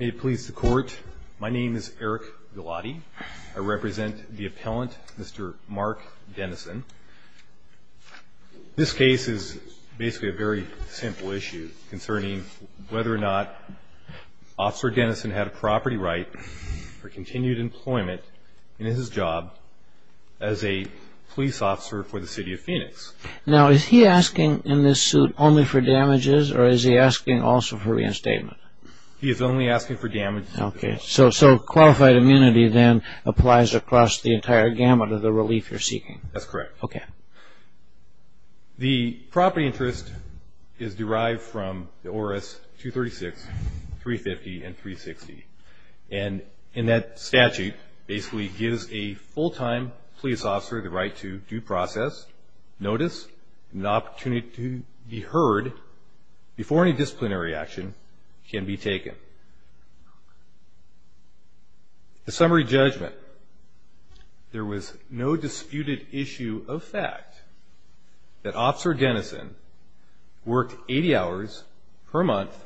May it please the court, my name is Eric Gilotti. I represent the appellant, Mr. Mark Dennison. This case is basically a very simple issue concerning whether or not Officer Dennison had a property right for continued employment in his job as a police officer for the City of Phoenix. Now is he asking in this suit only for damages or is he asking also for reinstatement? He is only asking for damages. Okay, so qualified immunity then applies across the entire gamut of the relief you're seeking? That's correct. Okay. The property interest is derived from the ORAS 236, 350, and 360. And that statute basically gives a full-time police officer the right to due process, notice, and the opportunity to be heard before any disciplinary action can be taken. The summary judgment. There was no disputed issue of fact that Officer Dennison worked 80 hours per month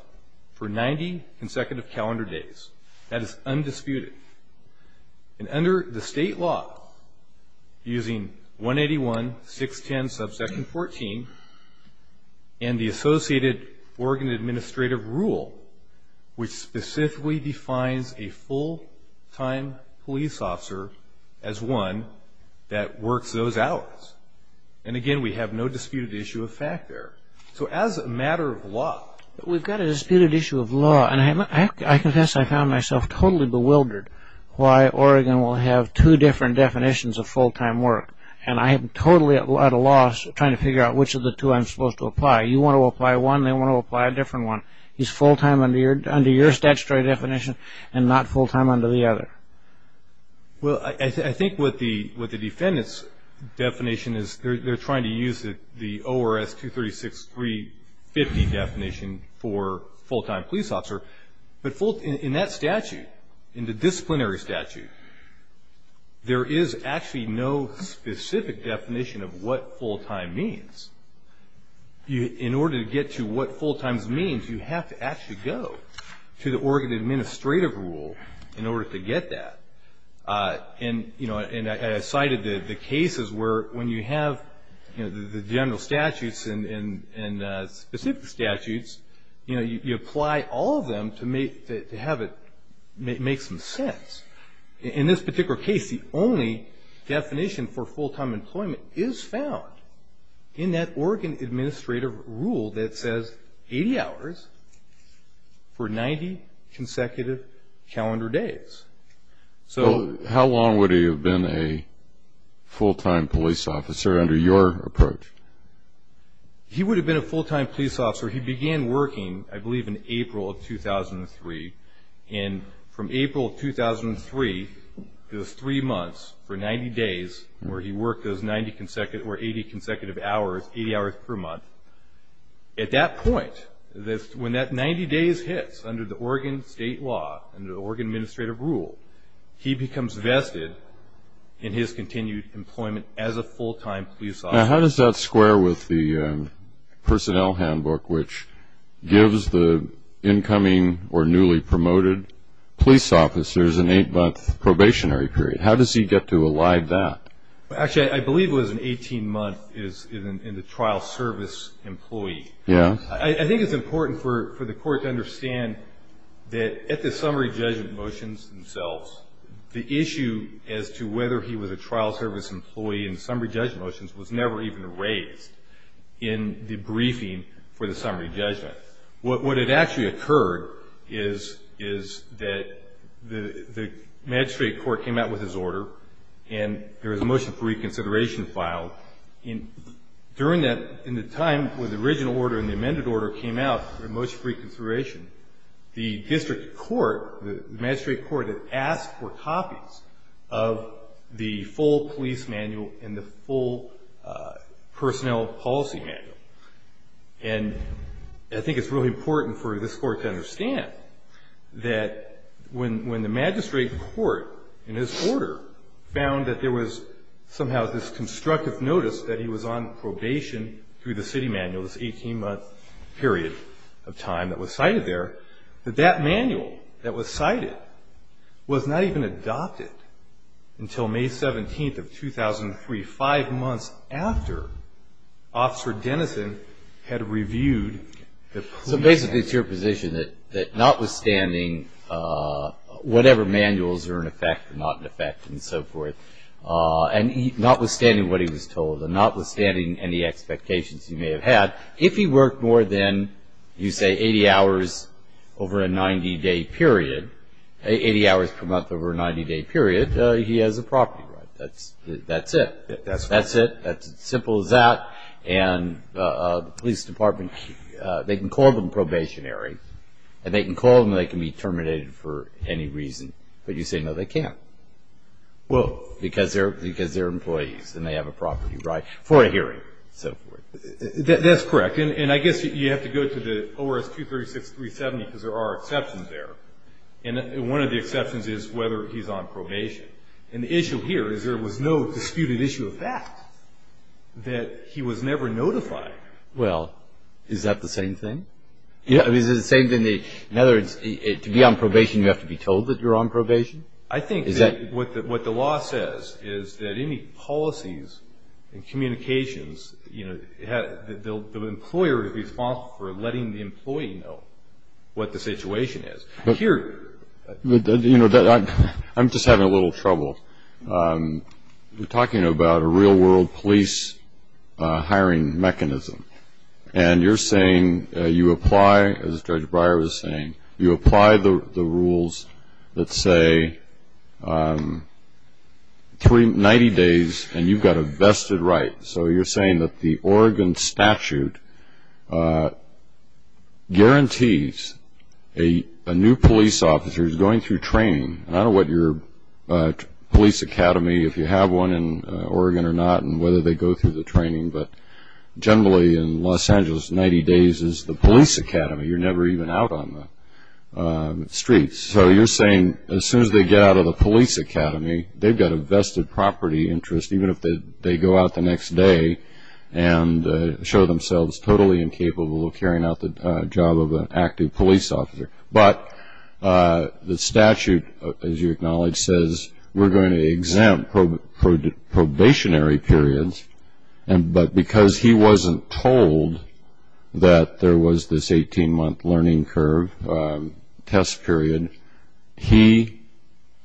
for 90 consecutive calendar days. That is undisputed. And under the state law, using 181, 610, subsection 14, and the associated Oregon administrative rule, which specifically defines a full-time police officer as one that works those hours. And, again, we have no disputed issue of fact there. So as a matter of law. We've got a disputed issue of law. And I confess I found myself totally bewildered why Oregon will have two different definitions of full-time work. And I am totally at a loss trying to figure out which of the two I'm supposed to apply. You want to apply one, they want to apply a different one. He's full-time under your statutory definition and not full-time under the other. Well, I think what the defendant's definition is, they're trying to use the ORS-236-350 definition for full-time police officer. But in that statute, in the disciplinary statute, there is actually no specific definition of what full-time means. In order to get to what full-time means, you have to actually go to the Oregon administrative rule in order to get that. And I cited the cases where when you have the general statutes and specific statutes, you apply all of them to have it make some sense. In this particular case, the only definition for full-time employment is found in that Oregon administrative rule that says 80 hours for 90 consecutive calendar days. So how long would he have been a full-time police officer under your approach? He would have been a full-time police officer. He began working, I believe, in April of 2003. And from April of 2003, those three months for 90 days where he worked those 90 consecutive or 80 consecutive hours, 80 hours per month, at that point, when that 90 days hits under the Oregon state law, under the Oregon administrative rule, he becomes vested in his continued employment as a full-time police officer. Now, how does that square with the personnel handbook, which gives the incoming or newly promoted police officers an eight-month probationary period? How does he get to align that? Actually, I believe it was an 18-month in the trial service employee. Yeah. I think it's important for the court to understand that at the summary judgment motions themselves, the issue as to whether he was a trial service employee in summary judgment motions was never even raised in the briefing for the summary judgment. What had actually occurred is that the magistrate court came out with his order, and there was a motion for reconsideration filed. During the time when the original order and the amended order came out, the motion for reconsideration, the district court, the magistrate court, had asked for copies of the full police manual and the full personnel policy manual. And I think it's really important for this court to understand that when the magistrate court in his order found that there was somehow this constructive notice that he was on probation through the city manual, this 18-month period of time that was cited there, that that manual that was cited was not even adopted until May 17th of 2003, five months after Officer Dennison had reviewed the police manual. So basically it's your position that notwithstanding whatever manuals are in effect or not in effect and so forth, and notwithstanding what he was told and notwithstanding any expectations he may have had, if he worked more than, you say, 80 hours over a 90-day period, 80 hours per month over a 90-day period, that he has a property right. That's it. That's it. It's as simple as that. And the police department, they can call them probationary, and they can call them and they can be terminated for any reason. But you say, no, they can't. Well, because they're employees and they have a property right for a hearing and so forth. That's correct. And I guess you have to go to the ORS 236-370 because there are exceptions there. And one of the exceptions is whether he's on probation. And the issue here is there was no disputed issue of that, that he was never notified. Well, is that the same thing? Is it the same thing, in other words, to be on probation you have to be told that you're on probation? I think what the law says is that any policies and communications, you know, the employer is responsible for letting the employee know what the situation is. But here, you know, I'm just having a little trouble. You're talking about a real-world police hiring mechanism. And you're saying you apply, as Judge Breyer was saying, you apply the rules that say 90 days and you've got a vested right. So you're saying that the Oregon statute guarantees a new police officer's going through training. And I don't know what your police academy, if you have one in Oregon or not, and whether they go through the training. But generally in Los Angeles, 90 days is the police academy. You're never even out on the streets. So you're saying as soon as they get out of the police academy, they've got a vested property interest even if they go out the next day and show themselves totally incapable of carrying out the job of an active police officer. But the statute, as you acknowledge, says we're going to exempt probationary periods. But because he wasn't told that there was this 18-month learning curve test period, he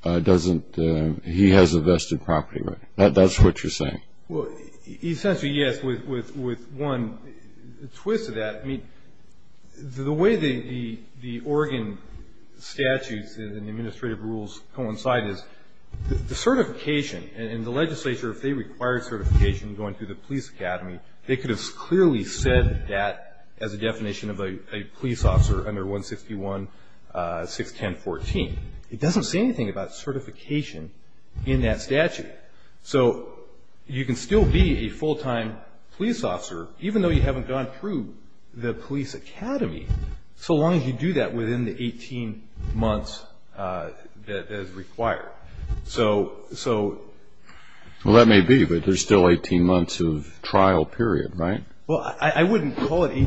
has a vested property right. That's what you're saying. Essentially, yes. With one twist of that, the way the Oregon statutes and the administrative rules coincide is the certification and the legislature if they required certification going through the police academy, they could have clearly said that as a definition of a police officer under 161.610.14. It doesn't say anything about certification in that statute. So you can still be a full-time police officer, even though you haven't gone through the police academy, so long as you do that within the 18 months that is required. Well, that may be, but there's still 18 months of trial period, right? Well, I wouldn't call it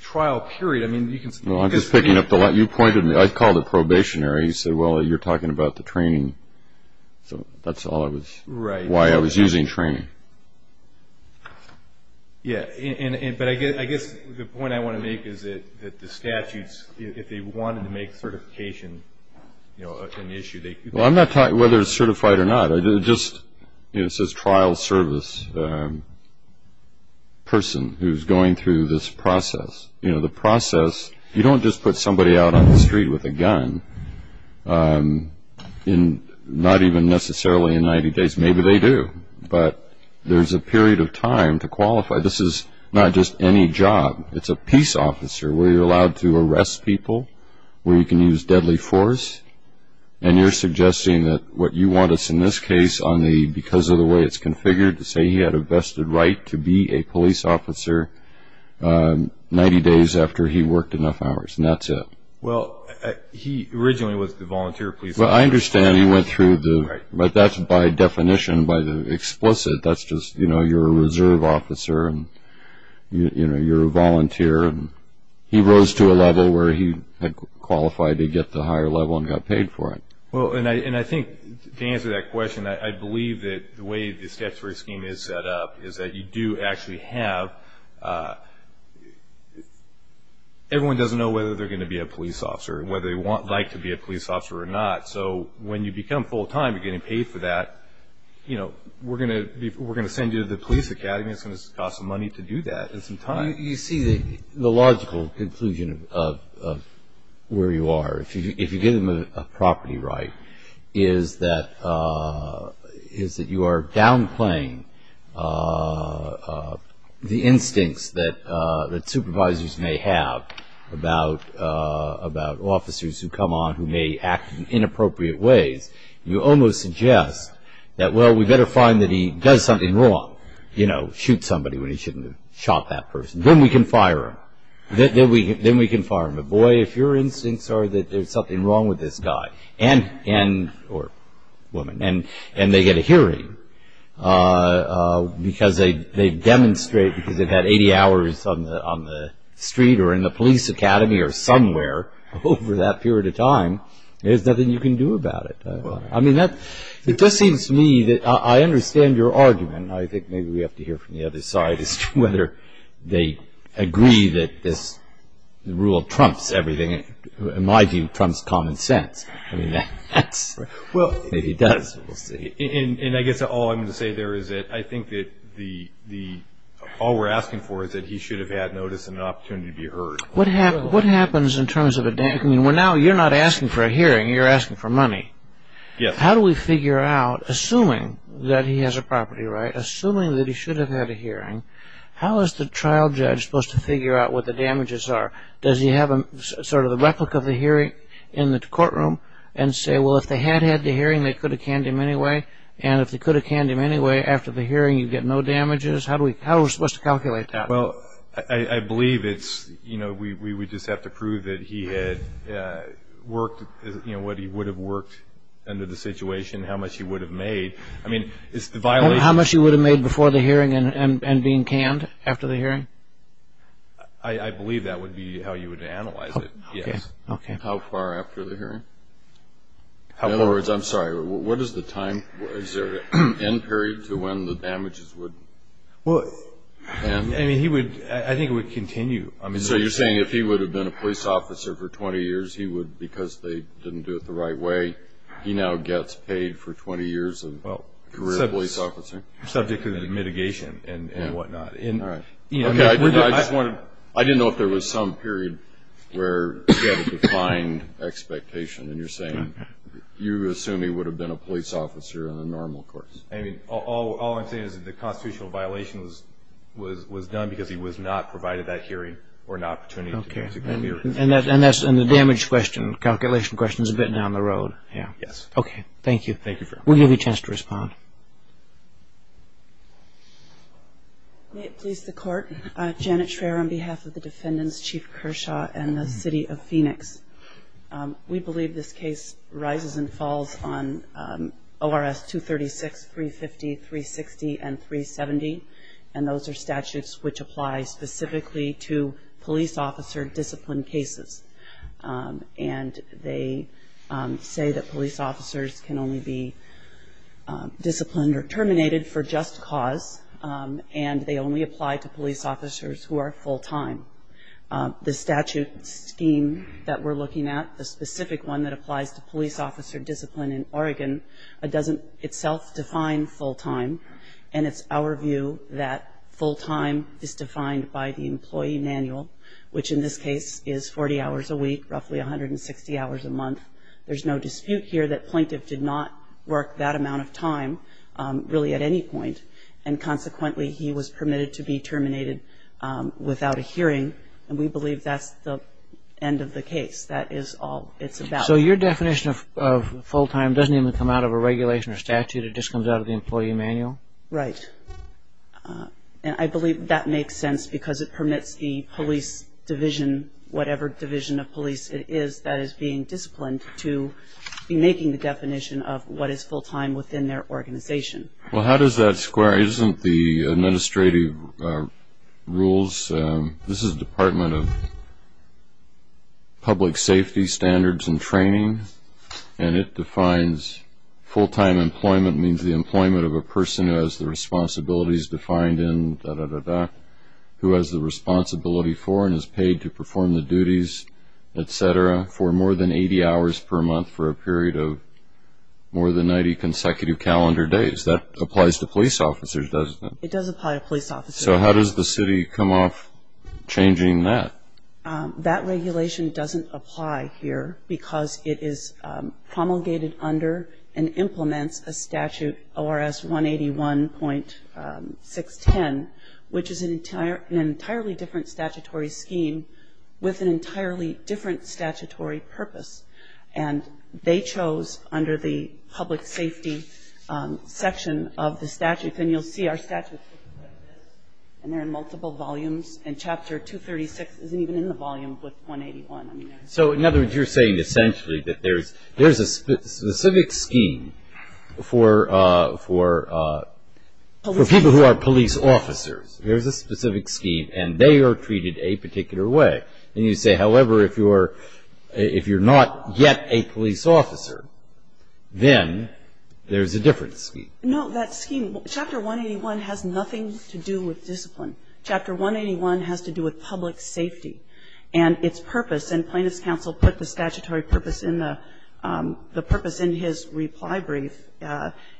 trial period. I'm just picking up the line. I called it probationary. You said, well, you're talking about the training. So that's why I was using training. Yeah, but I guess the point I want to make is that the statutes, if they wanted to make certification an issue, they could. Well, I'm not talking whether it's certified or not. It just says trial service person who's going through this process. The process, you don't just put somebody out on the street with a gun not even necessarily in 90 days. Maybe they do, but there's a period of time to qualify. This is not just any job. It's a peace officer where you're allowed to arrest people, where you can use deadly force, and you're suggesting that what you want is, in this case, because of the way it's configured, to say he had a vested right to be a police officer 90 days after he worked enough hours, and that's it. Well, he originally was the volunteer police officer. Well, I understand he went through the – but that's by definition, by the explicit, that's just you're a reserve officer and you're a volunteer. He rose to a level where he had qualified to get the higher level and got paid for it. Well, and I think, to answer that question, I believe that the way the statutory scheme is set up is that you do actually have – everyone doesn't know whether they're going to be a police officer and whether they'd like to be a police officer or not. So when you become full-time, you're getting paid for that. We're going to send you to the police academy. It's going to cost some money to do that and some time. You see, the logical conclusion of where you are, if you give him a property right, is that you are downplaying the instincts that supervisors may have about officers who come on who may act in inappropriate ways. You almost suggest that, well, we'd better find that he does something wrong, you know, shoot somebody when he shouldn't have shot that person. Then we can fire him. Then we can fire him. But, boy, if your instincts are that there's something wrong with this guy or woman and they get a hearing because they demonstrate because they've had 80 hours on the street or in the police academy or somewhere over that period of time, there's nothing you can do about it. I mean, it just seems to me that I understand your argument. I think maybe we have to hear from the other side as to whether they agree that this rule trumps everything. In my view, it trumps common sense. I mean, maybe it does. And I guess all I'm going to say there is that I think that all we're asking for is that he should have had notice and an opportunity to be heard. What happens in terms of a damage? I mean, now you're not asking for a hearing. You're asking for money. Yes. How do we figure out, assuming that he has a property right, assuming that he should have had a hearing, how is the trial judge supposed to figure out what the damages are? Does he have sort of a replica of the hearing in the courtroom and say, well, if they had had the hearing, they could have canned him anyway? And if they could have canned him anyway, after the hearing, you'd get no damages? How are we supposed to calculate that? Well, I believe it's, you know, we just have to prove that he had worked, you know, what he would have worked under the situation, how much he would have made. I mean, it's the violation. How much he would have made before the hearing and being canned after the hearing? I believe that would be how you would analyze it, yes. Okay. How far after the hearing? In other words, I'm sorry, what is the time? Is there an end period to when the damages would end? Well, I mean, I think it would continue. So you're saying if he would have been a police officer for 20 years, he would, because they didn't do it the right way, he now gets paid for 20 years of career police officing? Subject to the mitigation and whatnot. Okay. I didn't know if there was some period where you had a defined expectation, and you're saying you assume he would have been a police officer in a normal course. I mean, all I'm saying is that the constitutional violation was done because he was not provided that hearing or an opportunity to go through. Okay. And the damage question, calculation question is a bit down the road. Yes. Okay. Thank you. Thank you. We'll give you a chance to respond. May it please the Court. We believe this case rises and falls on ORS 236, 350, 360, and 370, and those are statutes which apply specifically to police officer disciplined cases. And they say that police officers can only be disciplined or terminated for just cause, and they only apply to police officers who are full-time. The statute scheme that we're looking at, the specific one that applies to police officer discipline in Oregon, doesn't itself define full-time, and it's our view that full-time is defined by the employee manual, which in this case is 40 hours a week, roughly 160 hours a month. There's no dispute here that plaintiff did not work that amount of time really at any point, and consequently he was permitted to be terminated without a hearing, and we believe that's the end of the case. That is all it's about. So your definition of full-time doesn't even come out of a regulation or statute. It just comes out of the employee manual? Right. And I believe that makes sense because it permits the police division, whatever division of police it is that is being disciplined, to be making the definition of what is full-time within their organization. Well, how does that square? Isn't the administrative rules? This is the Department of Public Safety Standards and Training, and it defines full-time employment means the employment of a person who has the responsibilities defined in da-da-da-da, who has the responsibility for and is paid to perform the duties, et cetera, for more than 80 hours per month for a period of more than 90 consecutive calendar days. That applies to police officers, doesn't it? It does apply to police officers. So how does the city come off changing that? That regulation doesn't apply here because it is promulgated under and implements a statute, ORS 181.610, which is an entirely different statutory scheme with an entirely different statutory purpose, and they chose under the public safety section of the statute, and you'll see our statute looks like this, and there are multiple volumes, and Chapter 236 isn't even in the volume with 181. So in other words, you're saying essentially that there's a specific scheme for people who are police officers. There's a specific scheme, and they are treated a particular way. And you say, however, if you're not yet a police officer, then there's a different scheme. No, that scheme, Chapter 181 has nothing to do with discipline. Chapter 181 has to do with public safety, and its purpose, and Plaintiff's counsel put the statutory purpose in the purpose in his reply brief,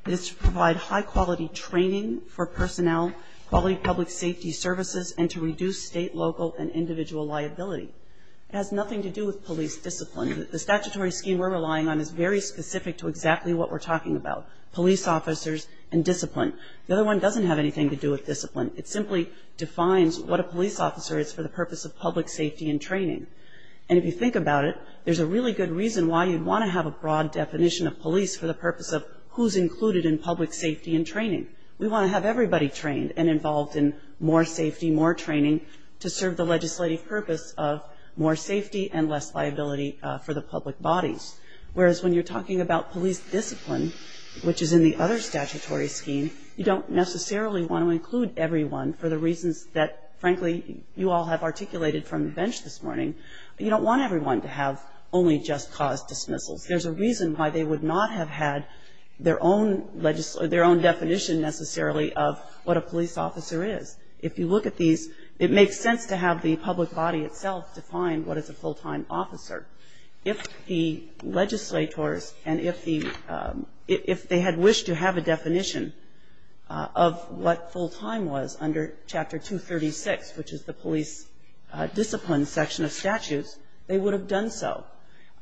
is to provide high-quality training for personnel, quality public safety services, and to reduce state, local, and individual liability. It has nothing to do with police discipline. The statutory scheme we're relying on is very specific to exactly what we're talking about, police officers and discipline. The other one doesn't have anything to do with discipline. It simply defines what a police officer is for the purpose of public safety and training. And if you think about it, there's a really good reason why you'd want to have a broad definition of police for the purpose of who's included in public safety and training. We want to have everybody trained and involved in more safety, more training to serve the legislative purpose of more safety and less liability for the public bodies. Whereas when you're talking about police discipline, which is in the other statutory scheme, you don't necessarily want to include everyone for the reasons that, frankly, you all have articulated from the bench this morning. You don't want everyone to have only just cause dismissals. There's a reason why they would not have had their own definition necessarily of what a police officer is. If you look at these, it makes sense to have the public body itself define what is a full-time officer. If the legislators and if they had wished to have a definition of what full-time was under Chapter 236, which is the police discipline section of statutes, they would have done so.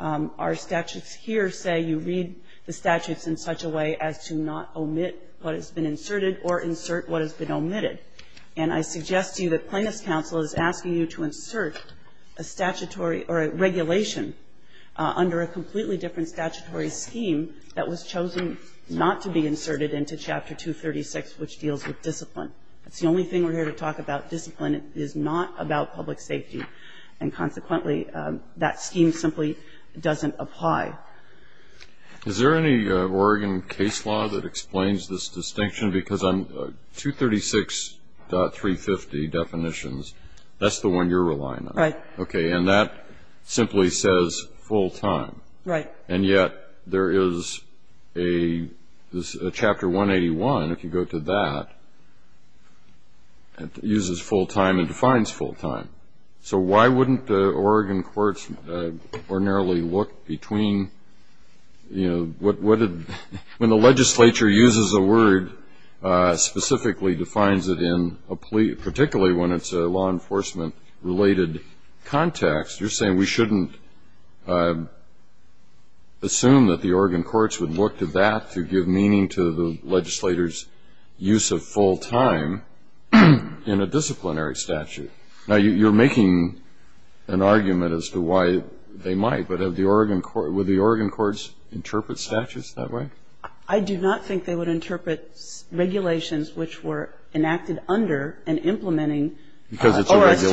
Our statutes here say you read the statutes in such a way as to not omit what has been inserted or insert what has been omitted. And I suggest to you that Plaintiff's counsel is asking you to insert a statutory or a regulation under a completely different statutory scheme that was chosen not to be inserted into Chapter 236, which deals with discipline. It's the only thing we're here to talk about. Discipline is not about public safety. And consequently, that scheme simply doesn't apply. Is there any Oregon case law that explains this distinction? Because 236.350 definitions, that's the one you're relying on. Right. Okay. And that simply says full-time. Right. And yet there is a Chapter 181, if you go to that, uses full-time and defines full-time. So why wouldn't Oregon courts ordinarily look between, you know, when the legislature uses a word specifically defines it in a plea, particularly when it's a law enforcement-related context, you're saying we shouldn't assume that the Oregon courts would look to that to give meaning to the legislator's use of full-time in a disciplinary statute. Now, you're making an argument as to why they might. But would the Oregon courts interpret statutes that way? I do not think they would interpret regulations which were enacted under and implementing Oregon's Chapter 181. Because it's a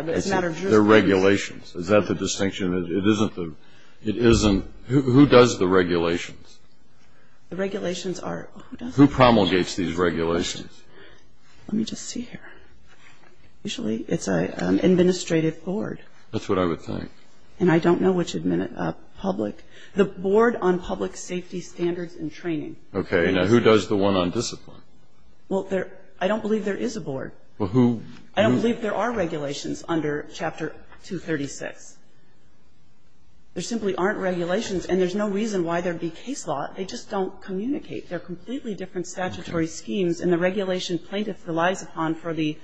regulation. But it's not a jurisdiction. They're regulations. Is that the distinction? It isn't. Who does the regulations? The regulations are. Who promulgates these regulations? Let me just see here. Usually it's an administrative board. That's what I would think. And I don't know which public. The Board on Public Safety Standards and Training. Okay. Now, who does the one on discipline? Well, I don't believe there is a board. Well, who? I don't believe there are regulations under Chapter 236. There simply aren't regulations. And there's no reason why there would be case law. They just don't communicate. They're completely different statutory schemes. And the regulation plaintiff relies upon for the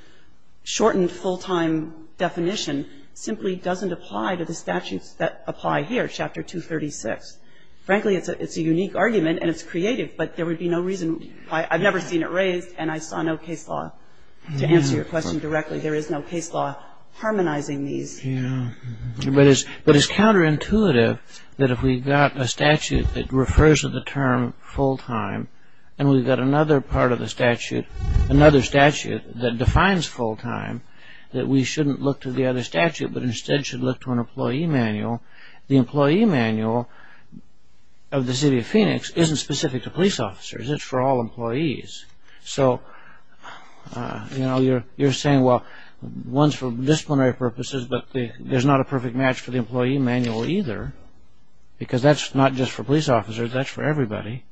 shortened full-time definition simply doesn't apply to the statutes that apply here, Chapter 236. Frankly, it's a unique argument. And it's creative. But there would be no reason why. I've never seen it raised. And I saw no case law to answer your question directly. There is no case law harmonizing these. But it's counterintuitive that if we've got a statute that refers to the term full-time and we've got another part of the statute, another statute that defines full-time, that we shouldn't look to the other statute but instead should look to an employee manual. The employee manual of the city of Phoenix isn't specific to police officers. It's for all employees. So, you know, you're saying, well, one's for disciplinary purposes but there's not a perfect match for the employee manual either because that's not just for police officers, that's for everybody.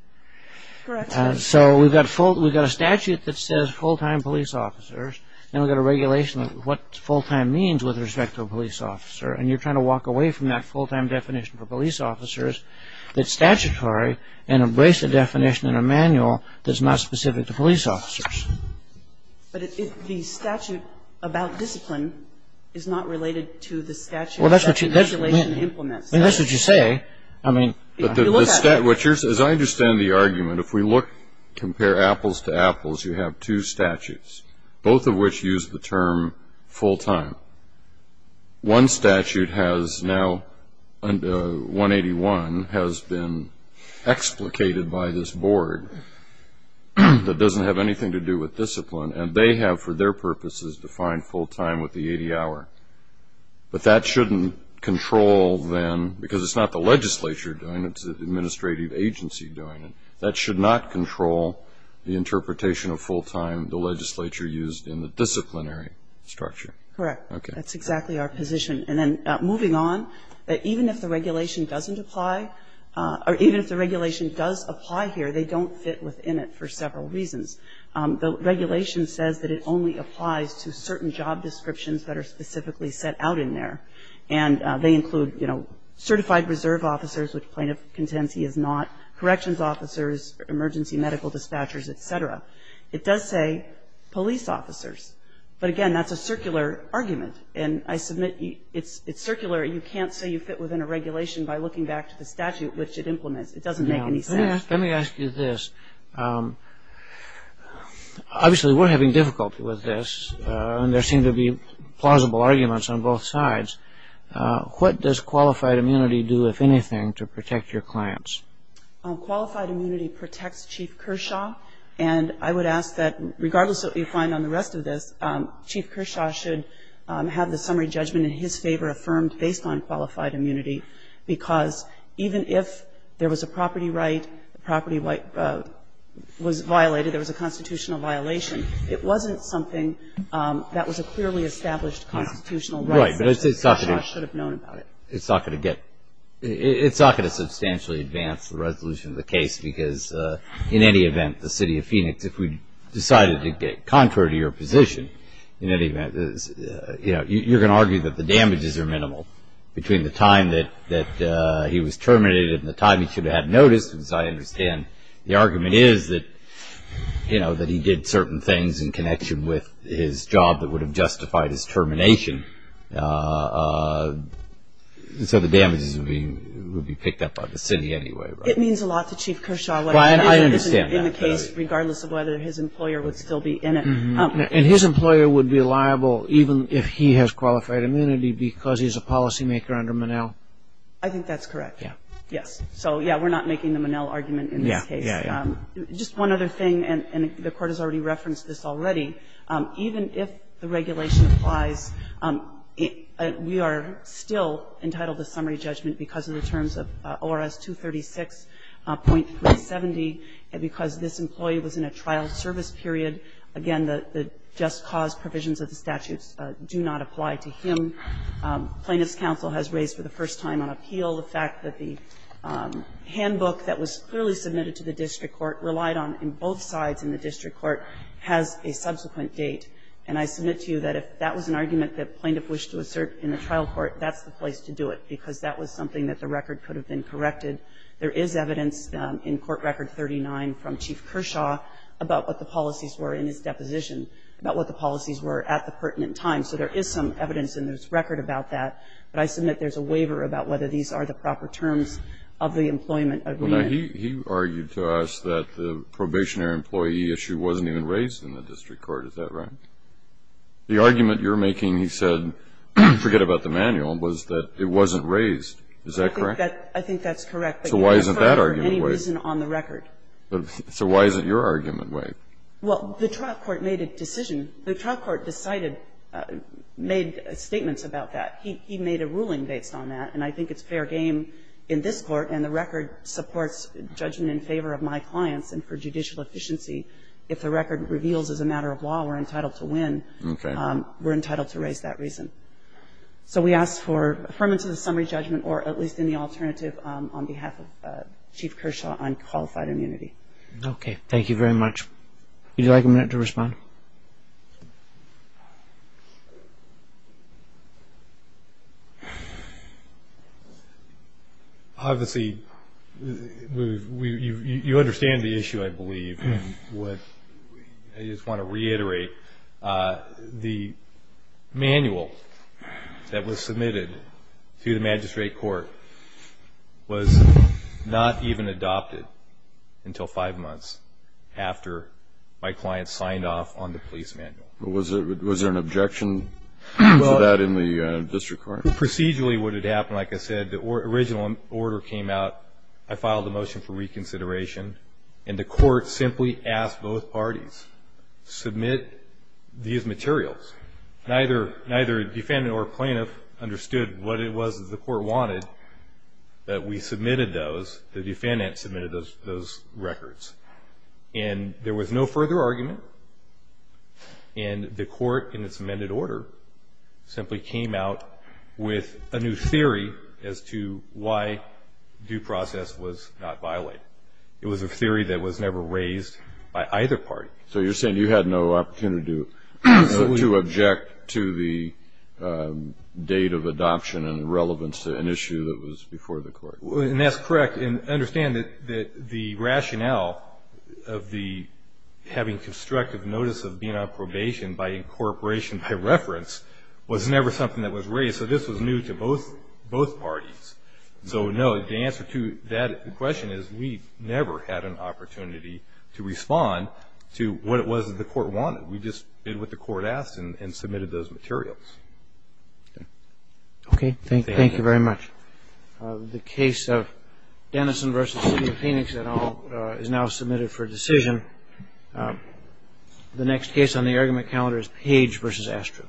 Correct. So we've got a statute that says full-time police officers and we've got a regulation of what full-time means with respect to a police officer. And you're trying to walk away from that full-time definition for police officers that's statutory and embrace a definition in a manual that's not specific to police officers. But if the statute about discipline is not related to the statute that regulation implements. Well, that's what you say. I mean, if you look at it. As I understand the argument, if we look, compare apples to apples, you have two statutes, both of which use the term full-time. One statute has now, 181, has been explicated by this board that doesn't have anything to do with discipline and they have, for their purposes, defined full-time with the 80-hour. But that shouldn't control then, because it's not the legislature doing it, it's the administrative agency doing it. That should not control the interpretation of full-time, the legislature used in the disciplinary structure. Correct. That's exactly our position. And then moving on, even if the regulation doesn't apply or even if the regulation does apply here, they don't fit within it for several reasons. The regulation says that it only applies to certain job descriptions that are specifically set out in there. And they include, you know, certified reserve officers, which plaintiff contends he is not, corrections officers, emergency medical dispatchers, et cetera. It does say police officers. But again, that's a circular argument. And I submit it's circular. You can't say you fit within a regulation by looking back to the statute which it implements. It doesn't make any sense. Let me ask you this. Obviously, we're having difficulty with this. And there seem to be plausible arguments on both sides. What does qualified immunity do, if anything, to protect your clients? Qualified immunity protects Chief Kershaw. And I would ask that regardless of what you find on the rest of this, Chief Kershaw should have the summary judgment in his favor affirmed based on qualified immunity, because even if there was a property right, the property was violated, there was a constitutional violation, it wasn't something that was a clearly established constitutional right. Right. But it's not going to get ‑‑ Chief Kershaw should have known about it. It's not going to get ‑‑ it's not going to substantially advance the resolution of the case, because in any event, the City of Phoenix, if we decided to get contrary to your position in any event, you know, you're going to argue that the damages are minimal between the time that he was terminated and the time he should have had notice, because I understand the argument is that, you know, that he did certain things in connection with his job that would have justified his termination. So the damages would be picked up by the city anyway, right? It means a lot to Chief Kershaw. I understand that. Regardless of whether his employer would still be in it. And his employer would be liable, even if he has qualified immunity, because he's a policymaker under Monell? I think that's correct. Yeah. Yes. So, yeah, we're not making the Monell argument in this case. Yeah, yeah, yeah. Just one other thing, and the Court has already referenced this already, even if the regulation applies, we are still entitled to summary judgment because of the terms of ORS 236.370, and because this employee was in a trial service period, again, the just cause provisions of the statutes do not apply to him. Plaintiff's counsel has raised for the first time on appeal the fact that the handbook that was clearly submitted to the district court relied on in both sides in the district court has a subsequent date. And I submit to you that if that was an argument that plaintiff wished to assert in the trial court, that's the place to do it, because that was something that the record could have been corrected. There is evidence in Court Record 39 from Chief Kershaw about what the policies were in his deposition, about what the policies were at the pertinent time. So there is some evidence in this record about that, but I submit there's a waiver about whether these are the proper terms of the employment agreement. Well, now, he argued to us that the probationary employee issue wasn't even raised in the district court. Is that right? The argument you're making, he said, forget about the manual, was that it wasn't raised. Is that correct? I think that's correct. So why isn't that argument waived? So why isn't your argument waived? Well, the trial court made a decision. The trial court decided, made statements about that. He made a ruling based on that. And I think it's fair game in this Court, and the record supports judgment in favor of my clients and for judicial efficiency. If the record reveals as a matter of law we're entitled to win, we're entitled to raise that reason. So we ask for affirmance of the summary judgment or at least any alternative on behalf of Chief Kershaw on qualified immunity. Okay. Thank you very much. Would you like a minute to respond? Obviously, you understand the issue, I believe. I just want to reiterate, the manual that was submitted to the magistrate court was not even adopted until five months after my client signed off on the police manual. Was there an objection to that in the district court? Procedurally, what had happened, like I said, the original order came out. I filed a motion for reconsideration. And the court simply asked both parties, submit these materials. Neither defendant or plaintiff understood what it was that the court wanted, that we submitted those, the defendant submitted those records. And there was no further argument. And the court in its amended order simply came out with a new theory as to why due process was not violated. It was a theory that was never raised by either party. So you're saying you had no opportunity to object to the date of adoption and relevance to an issue that was before the court? And that's correct. And understand that the rationale of the having constructive notice of being on probation by incorporation by reference was never something that was raised. So this was new to both parties. So, no, the answer to that question is we never had an opportunity to respond to what it was that the court wanted. We just did what the court asked and submitted those materials. Okay. Thank you very much. The case of Denison v. City of Phoenix et al. is now submitted for decision. The next case on the argument calendar is Page v. Astro.